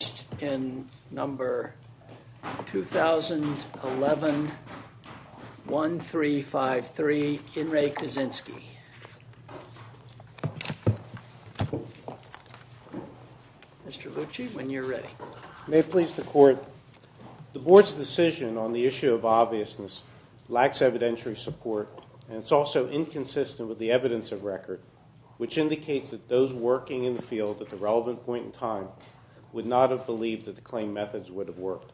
Mr. Lucci, when you're ready. May it please the court, the board's decision on the issue of obviousness lacks evidentiary support and it's also inconsistent with the evidence of record which indicates that those claim methods would have worked.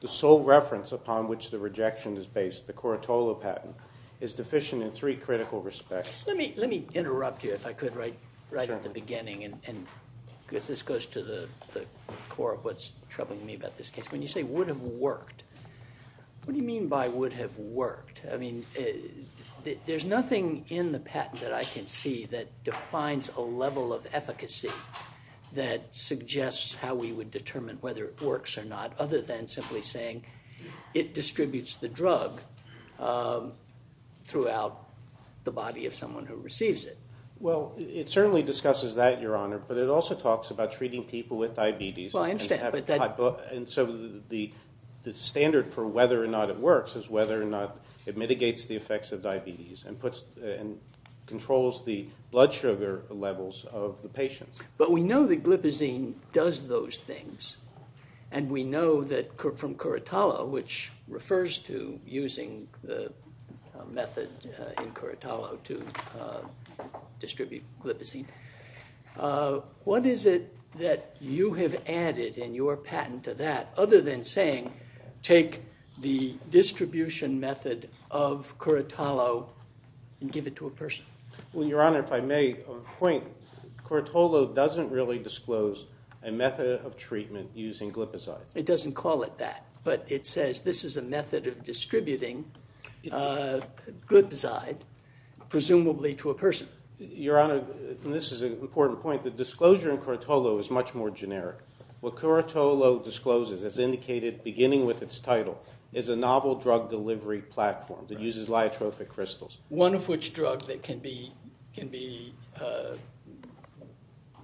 The sole reference upon which the rejection is based, the Corotolo patent, is deficient in three critical respects. Let me interrupt you, if I could, right at the beginning because this goes to the core of what's troubling me about this case. When you say would have worked, what do you mean by would have worked? There's nothing in the patent that I can see that defines a level of efficacy that suggests how we would determine whether it works or not other than simply saying it distributes the drug throughout the body of someone who receives it. Well it certainly discusses that, your honor, but it also talks about treating people with diabetes and so the standard for whether or not it works is whether or not it mitigates the effects of diabetes and controls the blood sugar levels of the patients. But we know that glipizine does those things and we know that from Corotolo, which refers to using the method in Corotolo to distribute glipizine, what is it that you have added in your patent to that other than saying take the distribution method of Corotolo and give it to a person? Well, your honor, if I may point, Corotolo doesn't really disclose a method of treatment using glipizine. It doesn't call it that, but it says this is a method of distributing glipizine, presumably to a person. Your honor, and this is an important point, the disclosure in Corotolo is much more generic. What Corotolo discloses, as indicated beginning with its title, is a novel drug delivery platform that uses lyotrophic crystals. One of which drug that can be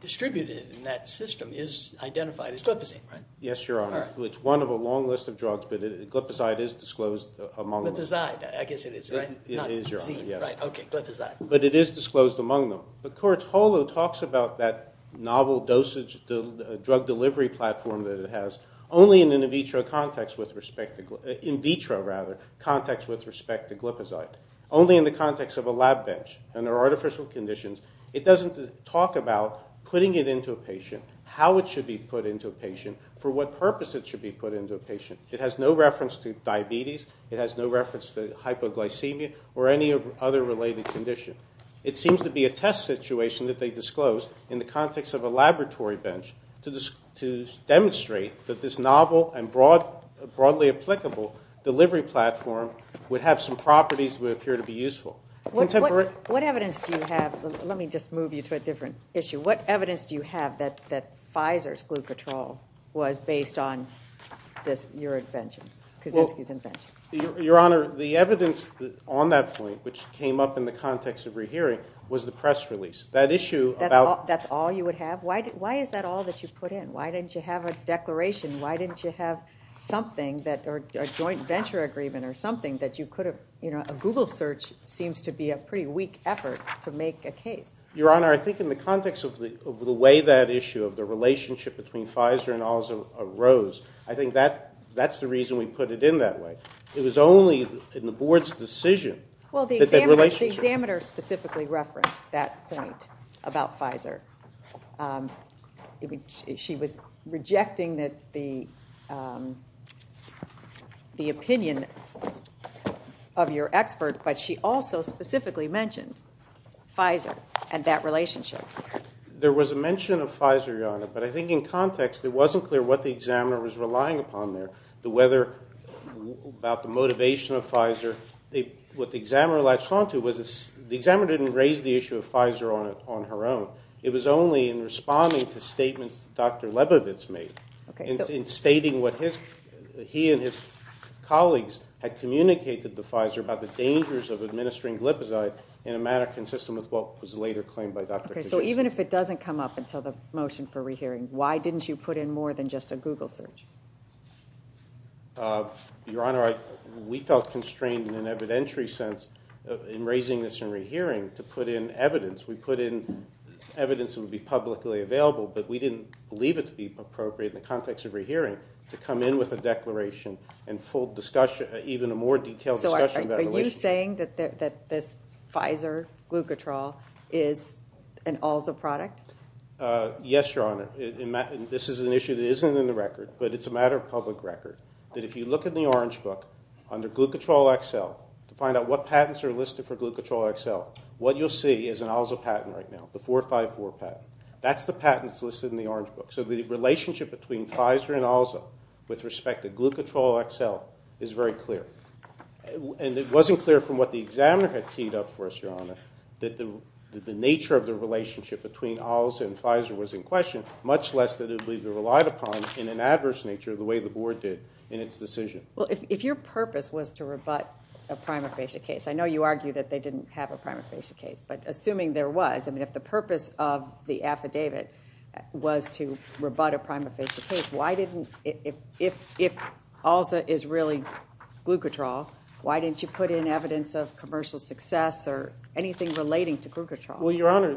distributed in that system is identified as glipizine, right? Yes, your honor. It's one of a long list of drugs, but glipizide is disclosed among them. Glipizide, I guess it is, right? It is, your honor, yes. Not glipizine, right? Okay, glipizide. But it is disclosed among them. But Corotolo talks about that novel drug delivery platform that it has only in an in vitro context with respect to glipizide. Only in the context of a lab bench under artificial conditions. It doesn't talk about putting it into a patient, how it should be put into a patient, for what purpose it should be put into a patient. It has no reference to diabetes. It has no reference to hypoglycemia or any other related condition. It seems to be a test situation that they disclosed in the context of a laboratory bench to demonstrate that this novel and broadly applicable delivery platform would have some properties that would appear to be useful. What evidence do you have? Let me just move you to a different issue. What evidence do you have that Pfizer's Glucotrol was based on your invention, Kaczynski's invention? Your honor, the evidence on that point, which came up in the context of rehearing, was the press release. That issue about— That's all you would have? Why is that all that you put in? Why didn't you have a declaration? Why didn't you have something that—a joint venture agreement or something that you could have—you know, a Google search seems to be a pretty weak effort to make a case. Your honor, I think in the context of the way that issue, of the relationship between Pfizer and all those arose, I think that's the reason we put it in that way. It was only in the board's decision that that relationship— She was rejecting the opinion of your expert, but she also specifically mentioned Pfizer and that relationship. There was a mention of Pfizer, your honor, but I think in context it wasn't clear what the examiner was relying upon there. The weather, about the motivation of Pfizer, what the examiner latched onto was—the examiner didn't raise the issue of Pfizer on her own. It was only in responding to statements that Dr. Lebovitz made, in stating what he and his colleagues had communicated to Pfizer about the dangers of administering glipizide in a matter consistent with what was later claimed by Dr. Kucinich. Okay, so even if it doesn't come up until the motion for rehearing, why didn't you put in more than just a Google search? Your honor, we felt constrained in an evidentiary sense in raising this in rehearing to put in evidence. We put in evidence that would be publicly available, but we didn't believe it to be appropriate in the context of rehearing to come in with a declaration and even a more detailed discussion of that relationship. So are you saying that this Pfizer glucotrol is an also product? Yes, your honor. This is an issue that isn't in the record, but it's a matter of public record. If you look in the Orange Book, under Glucotrol XL, to find out what patents are listed for the patent right now, the 454 patent, that's the patent that's listed in the Orange Book. So the relationship between Pfizer and also with respect to Glucotrol XL is very clear. And it wasn't clear from what the examiner had teed up for us, your honor, that the nature of the relationship between also and Pfizer was in question, much less that it would be relied upon in an adverse nature the way the board did in its decision. Well, if your purpose was to rebut a prima facie case, I know you argue that they didn't have a prima facie case, but assuming there was, I mean, if the purpose of the affidavit was to rebut a prima facie case, why didn't, if also is really Glucotrol, why didn't you put in evidence of commercial success or anything relating to Glucotrol? Well, your honor,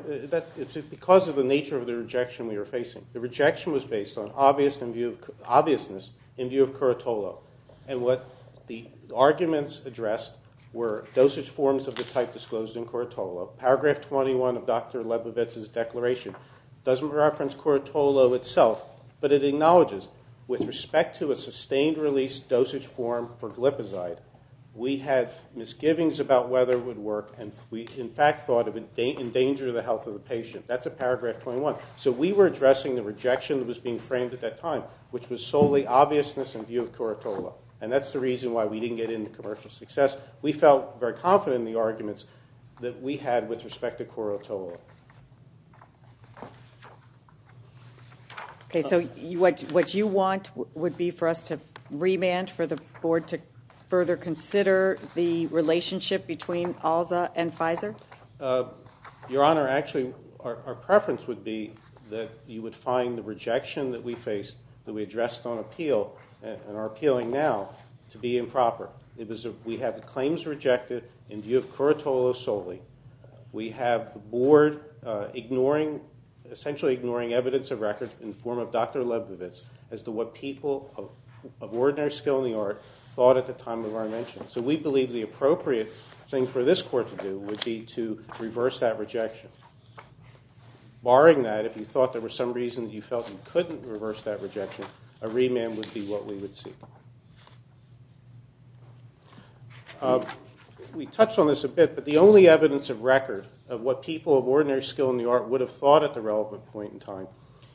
because of the nature of the rejection we were facing, the rejection was based on obviousness in view of Curatolo. And what the arguments addressed were dosage forms of the type disclosed in Curatolo. Paragraph 21 of Dr. Lebovitz's declaration doesn't reference Curatolo itself, but it acknowledges with respect to a sustained release dosage form for glipizide, we had misgivings about whether it would work, and we in fact thought it would endanger the health of the patient. That's at paragraph 21. So we were addressing the rejection that was being framed at that time, which was solely obviousness in view of Curatolo. And that's the reason why we didn't get into commercial success. We felt very confident in the arguments that we had with respect to Curatolo. Okay, so what you want would be for us to remand, for the board to further consider the relationship between ALSA and Pfizer? Your honor, actually, our preference would be that you would find the rejection that we faced, that we addressed on appeal, and are appealing now, to be improper. We have the claims rejected in view of Curatolo solely. We have the board ignoring, essentially ignoring evidence of records in the form of Dr. Lebovitz as to what people of ordinary skill in the art thought at the time of our mention. So we believe the appropriate thing for this court to do would be to reverse that rejection. Barring that, if you thought there was some reason that you felt you couldn't reverse that rejection, a remand would be what we would see. We touched on this a bit, but the only evidence of record of what people of ordinary skill in the art would have thought at the relevant point in time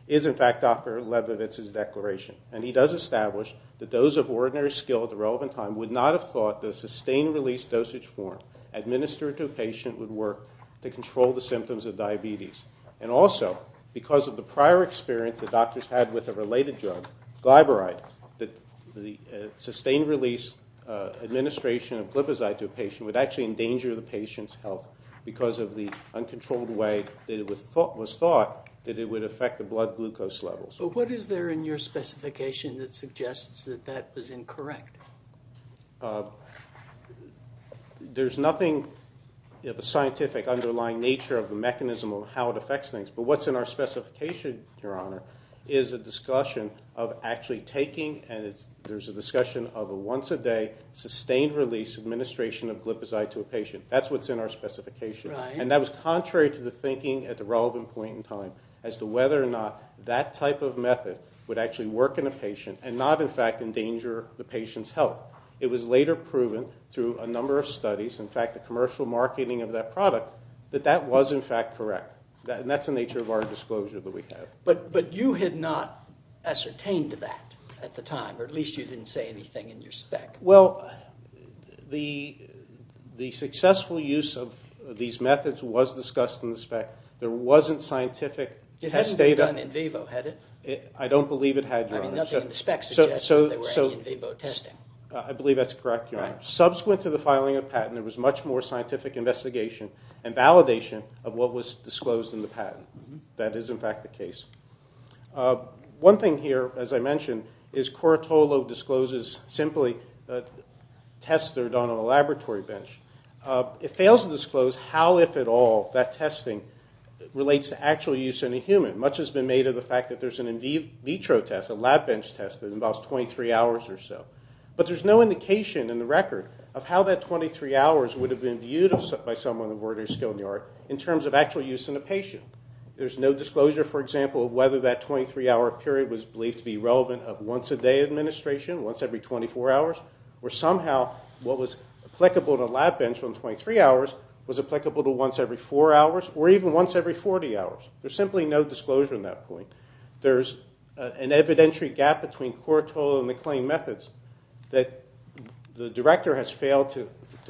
is in fact Dr. Lebovitz's declaration. And he does establish that those of ordinary skill at the relevant time would not have thought the sustained release dosage form administered to a patient would work to control the symptoms of diabetes. And also, because of the prior experience the doctors had with a related drug, Glyburide, that the sustained release administration of Glipizide to a patient would actually endanger the patient's health because of the uncontrolled way that it was thought that it would affect the blood glucose levels. What is there in your specification that suggests that that was incorrect? There's nothing of a scientific underlying nature of the mechanism of how it affects things, but what's in our specification, Your Honor, is a discussion of actually taking and there's a discussion of a once a day sustained release administration of Glipizide to a patient. That's what's in our specification. And that was contrary to the thinking at the relevant point in time as to whether or not that type of method would actually work in a patient and not in fact endanger the patient's health. It was later proven through a number of studies, in fact the commercial marketing of that product, that that was in fact correct. And that's the nature of our disclosure that we have. But you had not ascertained that at the time, or at least you didn't say anything in your spec. Well, the successful use of these methods was discussed in the spec. There wasn't scientific test data. It hadn't been done in vivo, had it? I don't believe it had, Your Honor. I mean, nothing in the spec suggests that there were any in vivo testing. I believe that's correct, Your Honor. Subsequent to the filing of patent, there was much more scientific investigation and validation of what was disclosed in the patent. That is in fact the case. One thing here, as I mentioned, is Corotolo discloses simply a test that was done on a laboratory bench. It fails to disclose how, if at all, that testing relates to actual use in a human. Much has been made of the fact that there's an in vitro test, a lab bench test, that involves 23 hours or so. But there's no indication in the record of how that 23 hours would have been viewed by someone of ordinary skill in the art in terms of actual use in a patient. There's no disclosure, for example, of whether that 23-hour period was believed to be relevant of once-a-day administration, once every 24 hours, or somehow what was applicable to a lab bench on 23 hours was applicable to once every four hours, or even once every 40 hours. There's simply no disclosure on that point. There's an evidentiary gap between Corotolo and the claim methods that the director has failed to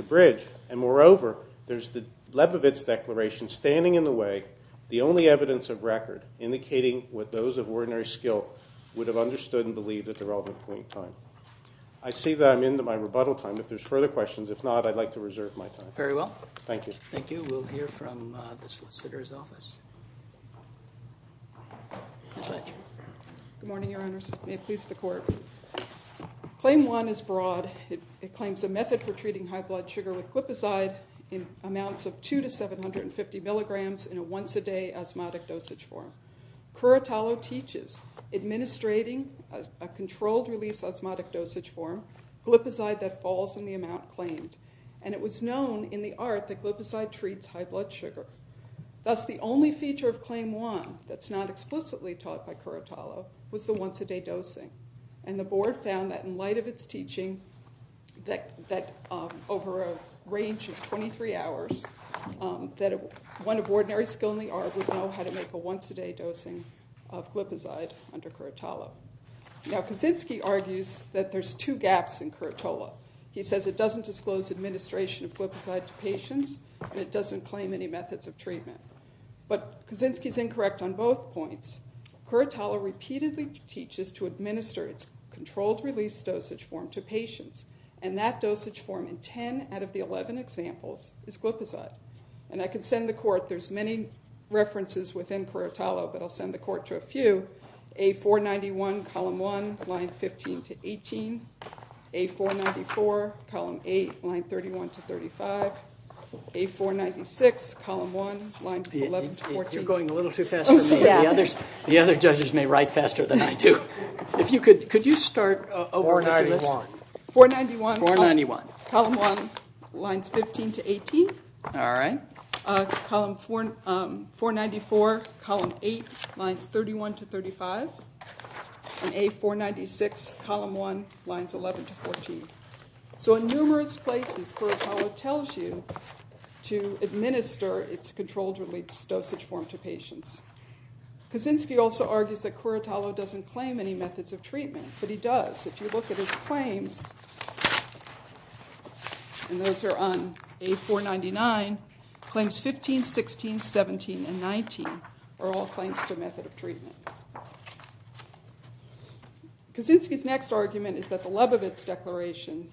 bridge. And moreover, there's the Lebovitz Declaration standing in the way, the only evidence of record indicating what those of ordinary skill would have understood and believed at the relevant point in time. I see that I'm into my rebuttal time. If there's further questions, if not, I'd like to reserve my time. Very well. Thank you. Thank you. We'll hear from the solicitor's office. Ms. Ledger. Good morning, Your Honors. May it please the Court. Claim one is broad. It claims a method for treating high blood sugar with glipizide in amounts of 2 to 750 milligrams in a once-a-day osmotic dosage form. Corotolo teaches, administrating a controlled release osmotic dosage form, glipizide that falls in the amount claimed. And it was known in the art that glipizide treats high blood sugar. Thus, the only feature of claim one that's not explicitly taught by Corotolo was the once-a-day dosing. And the board found that in light of its teaching, that over a range of 23 hours, that one of ordinary skill in the art would know how to make a once-a-day dosing of glipizide under Corotolo. Now, Kaczynski argues that there's two gaps in Corotolo. He says it doesn't disclose administration of glipizide to patients, and it doesn't claim any methods of treatment. But Kaczynski's incorrect on both points. Corotolo repeatedly teaches to administer its controlled release dosage form to patients. And that dosage form in 10 out of the 11 examples is glipizide. And I can send the Court, there's many references within Corotolo, but I'll send the Court to a few. A491, Column 1, Lines 15 to 18, A494, Column 8, Lines 31 to 35, A496, Column 1, Lines 11 to 14. You're going a little too fast for me. The other judges may write faster than I do. Could you start over with your list? 491. 491. Column 1, Lines 15 to 18. All right. A494, Column 8, Lines 31 to 35. And A496, Column 1, Lines 11 to 14. So in numerous places, Corotolo tells you to administer its controlled release dosage form to patients. Kaczynski also argues that Corotolo doesn't claim any methods of treatment, but he does. If you look at his claims, and those are on A499, Claims 15, 16, 17, and 19 are all claims to method of treatment. Kaczynski's next argument is that the Lebovitz Declaration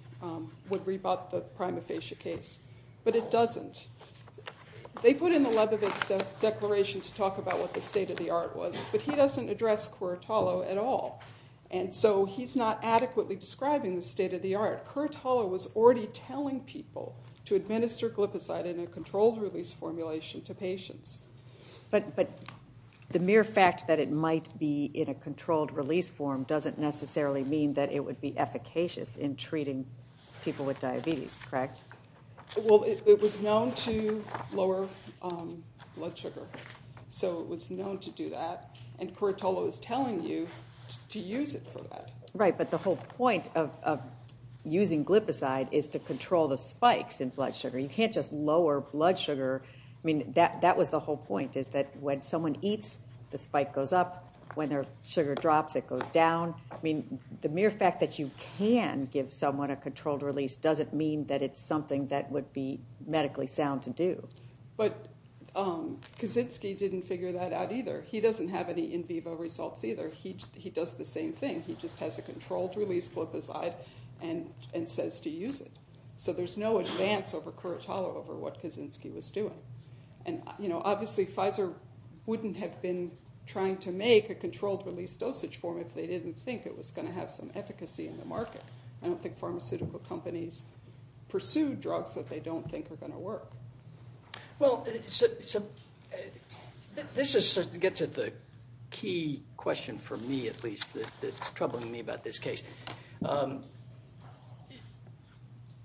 would rebut the prima facie case, but it doesn't. They put in the Lebovitz Declaration to talk about what the state of the art was, but he doesn't address Corotolo at all. And so he's not adequately describing the state of the art. Corotolo was already telling people to administer glipizide in a controlled release formulation to patients. But the mere fact that it might be in a controlled release form doesn't necessarily mean that it would be efficacious in treating people with diabetes, correct? Well, it was known to lower blood sugar. So it was known to do that. And Corotolo is telling you to use it for that. Right, but the whole point of using glipizide is to control the spikes in blood sugar. You can't just lower blood sugar. I mean, that was the whole point, is that when someone eats, the spike goes up. When their sugar drops, it goes down. I mean, the mere fact that you can give someone a controlled release doesn't mean that it's something that would be medically sound to do. But Kaczynski didn't figure that out either. He doesn't have any in vivo results either. He does the same thing. He just has a controlled release glipizide and says to use it. So there's no advance over Corotolo over what Kaczynski was doing. And, you know, obviously Pfizer wouldn't have been trying to make a controlled release dosage form if they didn't think it was going to have some efficacy in the market. I don't think pharmaceutical companies pursue drugs that they don't think are going to work. Well, this gets at the key question for me, at least, that's troubling me about this case.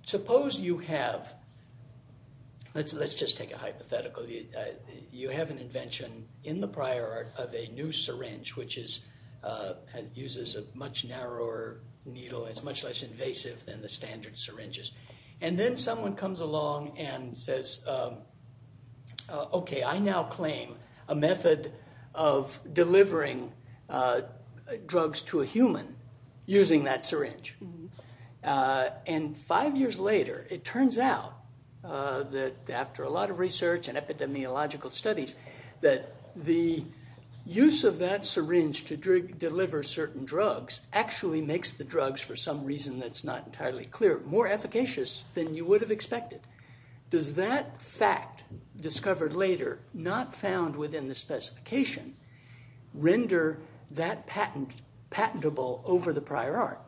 Suppose you have – let's just take a hypothetical. You have an invention in the prior art of a new syringe which uses a much narrower needle. It's much less invasive than the standard syringes. And then someone comes along and says, okay, I now claim a method of delivering drugs to a human using that syringe. And five years later, it turns out that after a lot of research and epidemiological studies, that the use of that syringe to deliver certain drugs actually makes the drugs, for some reason that's not entirely clear, more efficacious than you would have expected. Does that fact discovered later, not found within the specification, render that patentable over the prior art?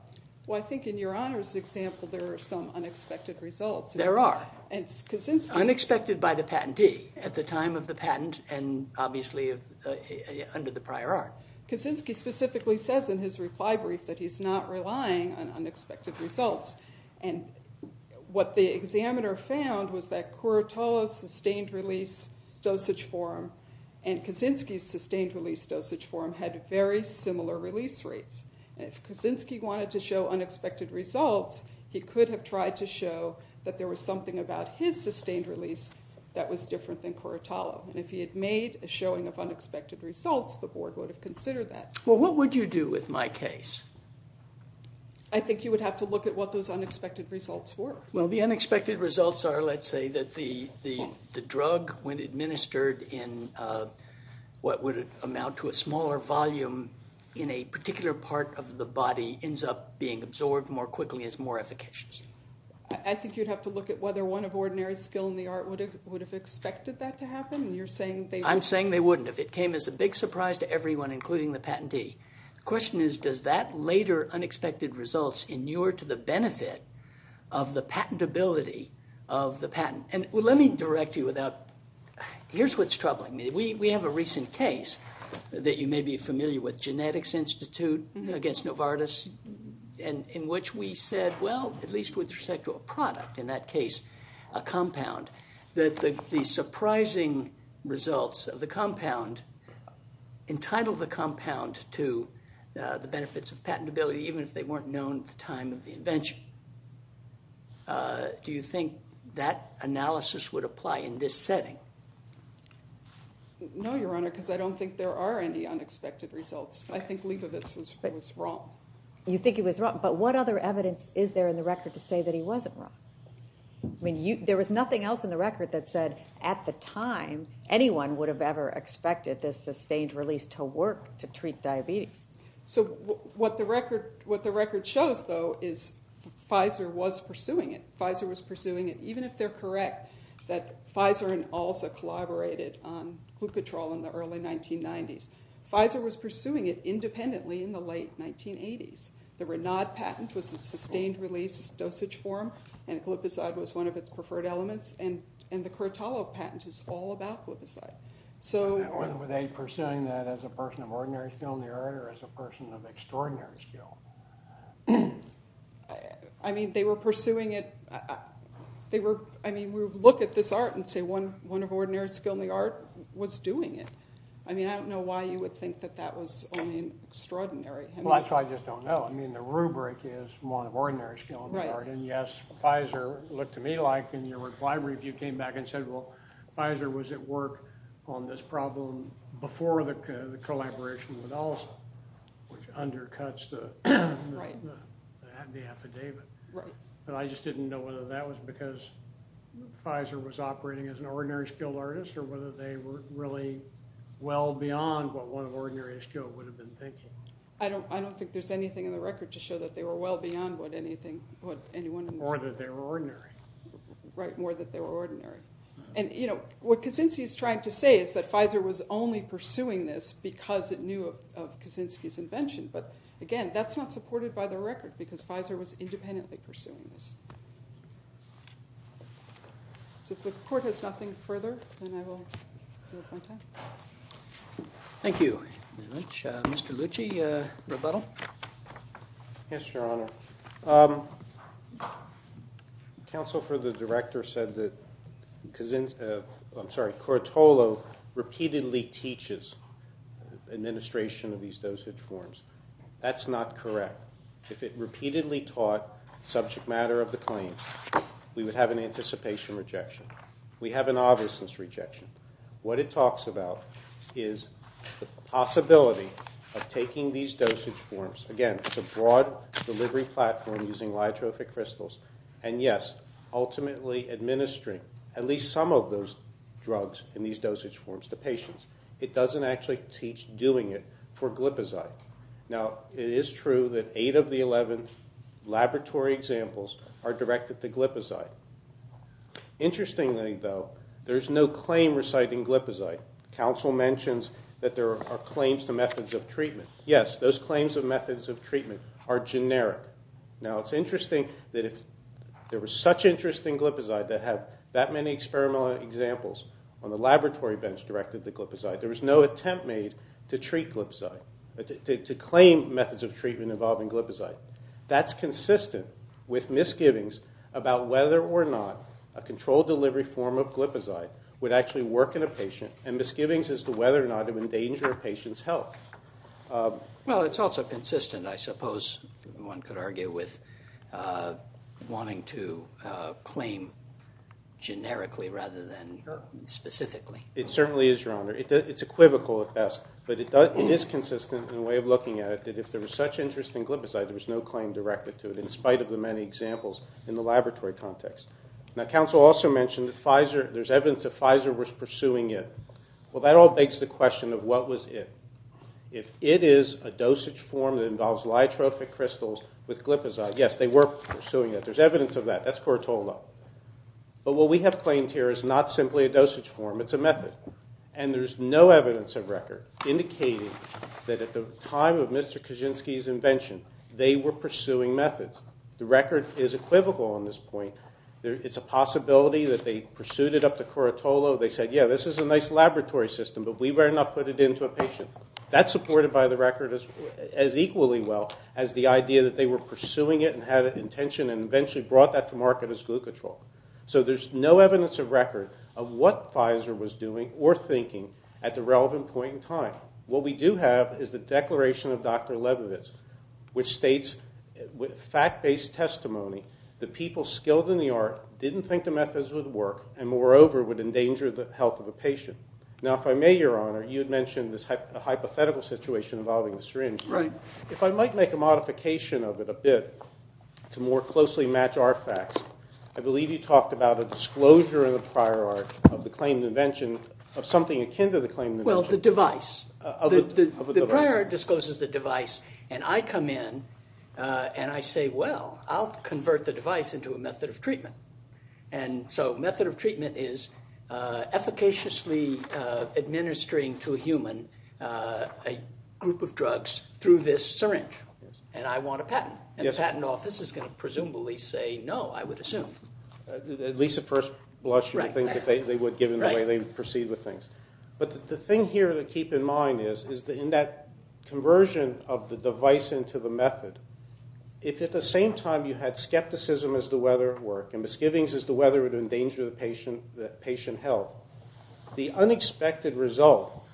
Well, I think in your honors example, there are some unexpected results. There are. And Kaczynski – Unexpected by the patentee at the time of the patent and obviously under the prior art. Kaczynski specifically says in his reply brief that he's not relying on unexpected results. And what the examiner found was that Curatalo's sustained release dosage form and Kaczynski's sustained release dosage form had very similar release rates. And if Kaczynski wanted to show unexpected results, he could have tried to show that there was something about his sustained release that was different than Curatalo. And if he had made a showing of unexpected results, the board would have considered that. Well, what would you do with my case? I think you would have to look at what those unexpected results were. Well, the unexpected results are, let's say, that the drug, when administered in what would amount to a smaller volume in a particular part of the body, ends up being absorbed more quickly as more efficacious. I think you'd have to look at whether one of ordinary skill in the art would have expected that to happen. You're saying they wouldn't. I'm saying they wouldn't if it came as a big surprise to everyone, including the patentee. The question is, does that later unexpected results inure to the benefit of the patentability of the patent? And let me direct you without – here's what's troubling me. We have a recent case that you may be familiar with, Genetics Institute against Novartis, in which we said, well, at least with respect to a product, in that case a compound, that the surprising results of the compound entitled the compound to the benefits of patentability, even if they weren't known at the time of the invention. Do you think that analysis would apply in this setting? No, Your Honor, because I don't think there are any unexpected results. I think Leibovitz was wrong. You think he was wrong, but what other evidence is there in the record to say that he wasn't wrong? I mean, there was nothing else in the record that said, at the time, anyone would have ever expected this sustained release to work to treat diabetes. So what the record shows, though, is Pfizer was pursuing it. Pfizer was pursuing it, even if they're correct that Pfizer and Alza collaborated on glucotrol in the early 1990s. Pfizer was pursuing it independently in the late 1980s. The Renaud patent was a sustained release dosage form, and gluposide was one of its preferred elements, and the Cortado patent is all about gluposide. So were they pursuing that as a person of ordinary skill in the art or as a person of extraordinary skill? I mean, they were pursuing it. I mean, we would look at this art and say one of ordinary skill in the art was doing it. I mean, I don't know why you would think that that was only extraordinary. Well, that's why I just don't know. I mean, the rubric is one of ordinary skill in the art, and yes, Pfizer looked to me like, and your reply review came back and said, well, Pfizer was at work on this problem before the collaboration with Alza, which undercuts the affidavit. But I just didn't know whether that was because Pfizer was operating as an ordinary skilled artist or whether they were really well beyond what one of ordinary skill would have been thinking. I don't think there's anything in the record to show that they were well beyond what anyone in this room. More that they were ordinary. Right, more that they were ordinary. And, you know, what Kaczynski is trying to say is that Pfizer was only pursuing this because it knew of Kaczynski's invention. But, again, that's not supported by the record because Pfizer was independently pursuing this. So if the Court has nothing further, then I will move on. Thank you very much. Mr. Lucci, rebuttal? Yes, Your Honor. Counsel for the Director said that Kortolo repeatedly teaches administration of these dosage forms. That's not correct. If it repeatedly taught subject matter of the claim, we would have an anticipation rejection. We have an obviousness rejection. What it talks about is the possibility of taking these dosage forms. Again, it's a broad delivery platform using lyotrophic crystals. And, yes, ultimately administering at least some of those drugs in these dosage forms to patients. It doesn't actually teach doing it for glipizide. Now, it is true that eight of the 11 laboratory examples are directed to glipizide. Interestingly, though, there's no claim reciting glipizide. Counsel mentions that there are claims to methods of treatment. Yes, those claims of methods of treatment are generic. Now, it's interesting that if there were such interest in glipizide that have that many experimental examples on the laboratory bench directed to glipizide. There was no attempt made to treat glipizide, to claim methods of treatment involving glipizide. That's consistent with misgivings about whether or not a controlled delivery form of glipizide would actually work in a patient and misgivings as to whether or not it would endanger a patient's health. Well, it's also consistent, I suppose, one could argue, with wanting to claim generically rather than specifically. It certainly is, Your Honor. It's equivocal at best, but it is consistent in the way of looking at it that if there was such interest in glipizide, there was no claim directed to it in spite of the many examples in the laboratory context. Now, counsel also mentioned that there's evidence that Pfizer was pursuing it. Well, that all begs the question of what was it. If it is a dosage form that involves lyotrophic crystals with glipizide, yes, they were pursuing it. There's evidence of that. That's Cortola. But what we have claimed here is not simply a dosage form. It's a method. And there's no evidence of record indicating that at the time of Mr. Kaczynski's invention, they were pursuing methods. The record is equivocal on this point. It's a possibility that they pursued it up to Cortola. They said, yeah, this is a nice laboratory system, but we better not put it into a patient. That's supported by the record as equally well as the idea that they were pursuing it and had an intention and eventually brought that to market as glucotrol. So there's no evidence of record of what Pfizer was doing or thinking at the relevant point in time. What we do have is the declaration of Dr. Leibovitz, which states, with fact-based testimony, that people skilled in the art didn't think the methods would work and, moreover, would endanger the health of a patient. Now, if I may, Your Honor, you had mentioned this hypothetical situation involving the syringe. If I might make a modification of it a bit to more closely match our facts, I believe you talked about a disclosure in the prior art of the claimed invention of something akin to the claimed invention. Well, the device. The prior art discloses the device, and I come in and I say, well, I'll convert the device into a method of treatment. And so method of treatment is efficaciously administering to a human a group of drugs through this syringe, and I want a patent. And the patent office is going to presumably say no, I would assume. At least at first blush you would think that they would, given the way they proceed with things. But the thing here to keep in mind is that in that conversion of the device into the method, if at the same time you had skepticism as to whether it worked and misgivings as to whether it would endanger the patient health, the unexpected result,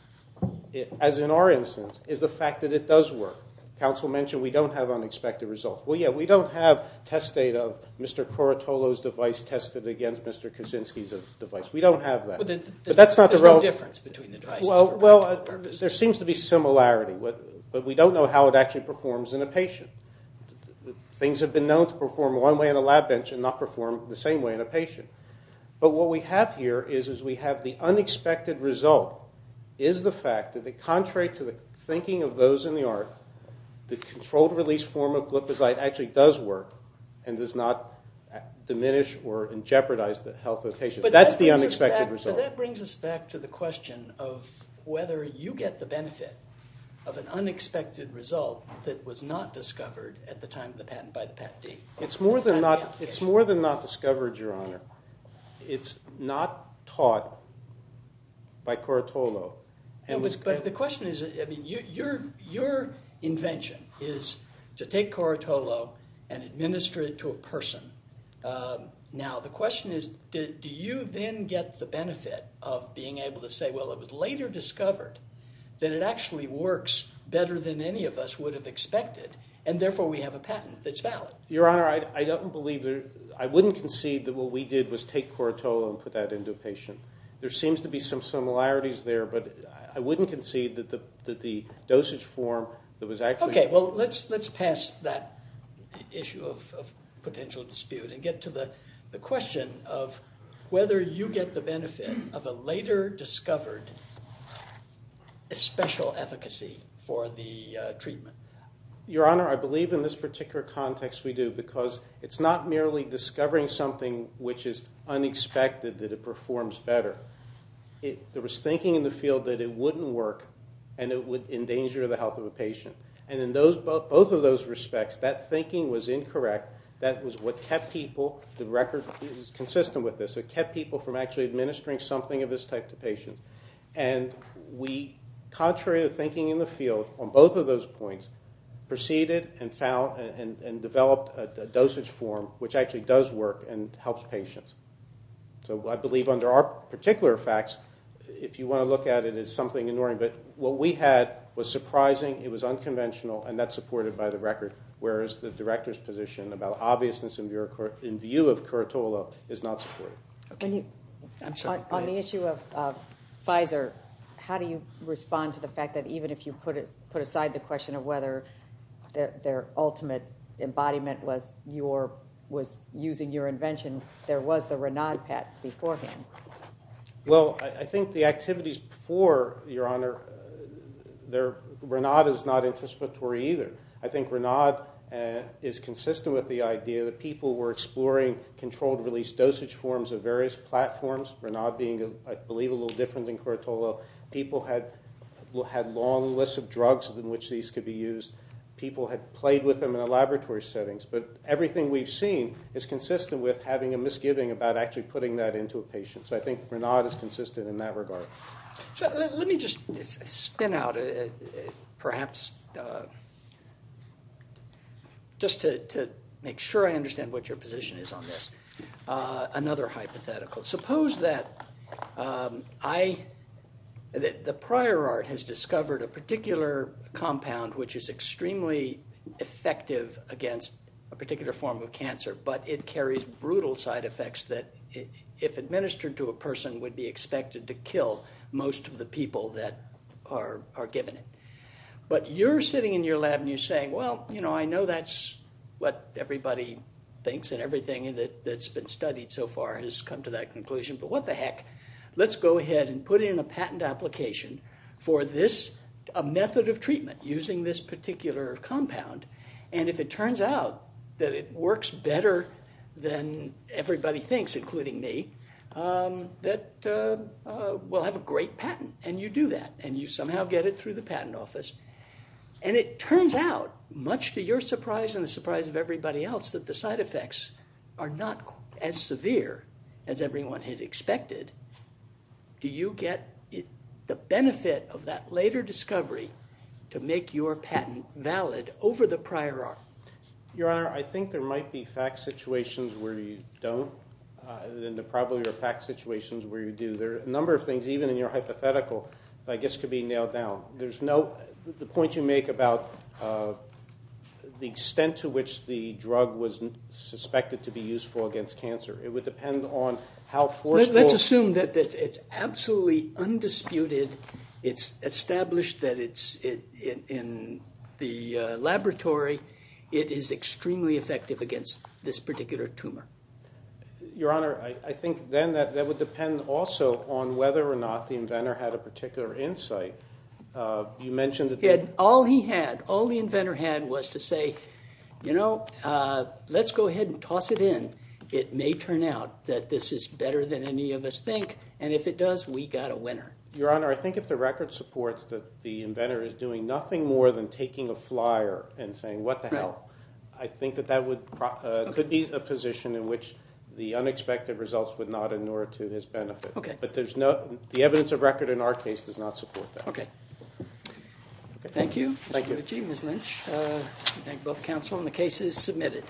as in our instance, is the fact that it does work. Council mentioned we don't have unexpected results. Well, yeah, we don't have test data of Mr. Corotolo's device tested against Mr. Kuczynski's device. We don't have that. But that's not the real difference between the devices. Well, there seems to be similarity, but we don't know how it actually performs in a patient. Things have been known to perform one way on a lab bench and not perform the same way in a patient. But what we have here is we have the unexpected result is the fact that contrary to the thinking of those in the art, the controlled release form of glipizide actually does work and does not diminish or jeopardize the health of the patient. That's the unexpected result. But that brings us back to the question of whether you get the benefit of an unexpected result that was not discovered at the time of the patent by the Patent Department. It's more than not discovered, Your Honor. It's not taught by Corotolo. But the question is, I mean, your invention is to take Corotolo and administer it to a person. Now, the question is, do you then get the benefit of being able to say, well, it was later discovered that it actually works better than any of us would have expected, and therefore we have a patent that's valid? Your Honor, I wouldn't concede that what we did was take Corotolo and put that into a patient. There seems to be some similarities there, but I wouldn't concede that the dosage form that was actually Okay, well, let's pass that issue of potential dispute and get to the question of whether you get the benefit of a later discovered special efficacy for the treatment. Your Honor, I believe in this particular context we do because it's not merely discovering something which is unexpected that it performs better. There was thinking in the field that it wouldn't work and it would endanger the health of a patient. And in both of those respects, that thinking was incorrect. That was what kept people, the record is consistent with this, it kept people from actually administering something of this type to patients. And we, contrary to thinking in the field, on both of those points, proceeded and developed a dosage form which actually does work and helps patients. So I believe under our particular facts, if you want to look at it, it's something ignoring. But what we had was surprising, it was unconventional, and that's supported by the record, whereas the director's position about obviousness in view of Corotolo is not supported. On the issue of Pfizer, how do you respond to the fact that even if you put aside the question of whether their ultimate embodiment was using your invention, there was the Ranaud patent beforehand? Well, I think the activities before, Your Honor, Ranaud is not anticipatory either. I think Ranaud is consistent with the idea that people were exploring controlled release dosage forms of various platforms, Ranaud being, I believe, a little different than Corotolo. People had long lists of drugs in which these could be used. People had played with them in the laboratory settings. But everything we've seen is consistent with having a misgiving about actually putting that into a patient. So I think Ranaud is consistent in that regard. Let me just spin out perhaps just to make sure I understand what your position is on this. Another hypothetical. Suppose that the prior art has discovered a particular compound which is extremely effective against a particular form of cancer, but it carries brutal side effects that, if administered to a person, would be expected to kill most of the people that are given it. But you're sitting in your lab and you're saying, well, I know that's what everybody thinks and everything that's been studied so far has come to that conclusion, but what the heck, let's go ahead and put in a patent application for this, a method of treatment using this particular compound. And if it turns out that it works better than everybody thinks, including me, that we'll have a great patent and you do that and you somehow get it through the patent office. And it turns out, much to your surprise and the surprise of everybody else, that the side effects are not as severe as everyone had expected. Do you get the benefit of that later discovery to make your patent valid over the prior art? Your Honor, I think there might be fact situations where you don't, and there probably are fact situations where you do. There are a number of things, even in your hypothetical, that I guess could be nailed down. The point you make about the extent to which the drug was suspected to be useful against cancer, it would depend on how forceful... Let's assume that it's absolutely undisputed. It's established that in the laboratory it is extremely effective against this particular tumor. Your Honor, I think then that would depend also on whether or not the inventor had a particular insight. You mentioned that... All he had, all the inventor had was to say, you know, let's go ahead and toss it in. It may turn out that this is better than any of us think, and if it does, we got a winner. Your Honor, I think if the record supports that the inventor is doing nothing more than taking a flyer and saying, what the hell, I think that that could be a position in which the unexpected results would not inure to his benefit. Okay. But the evidence of record in our case does not support that. Okay. Thank you, Mr. Lucci, Ms. Lynch. I thank both counsel, and the case is submitted.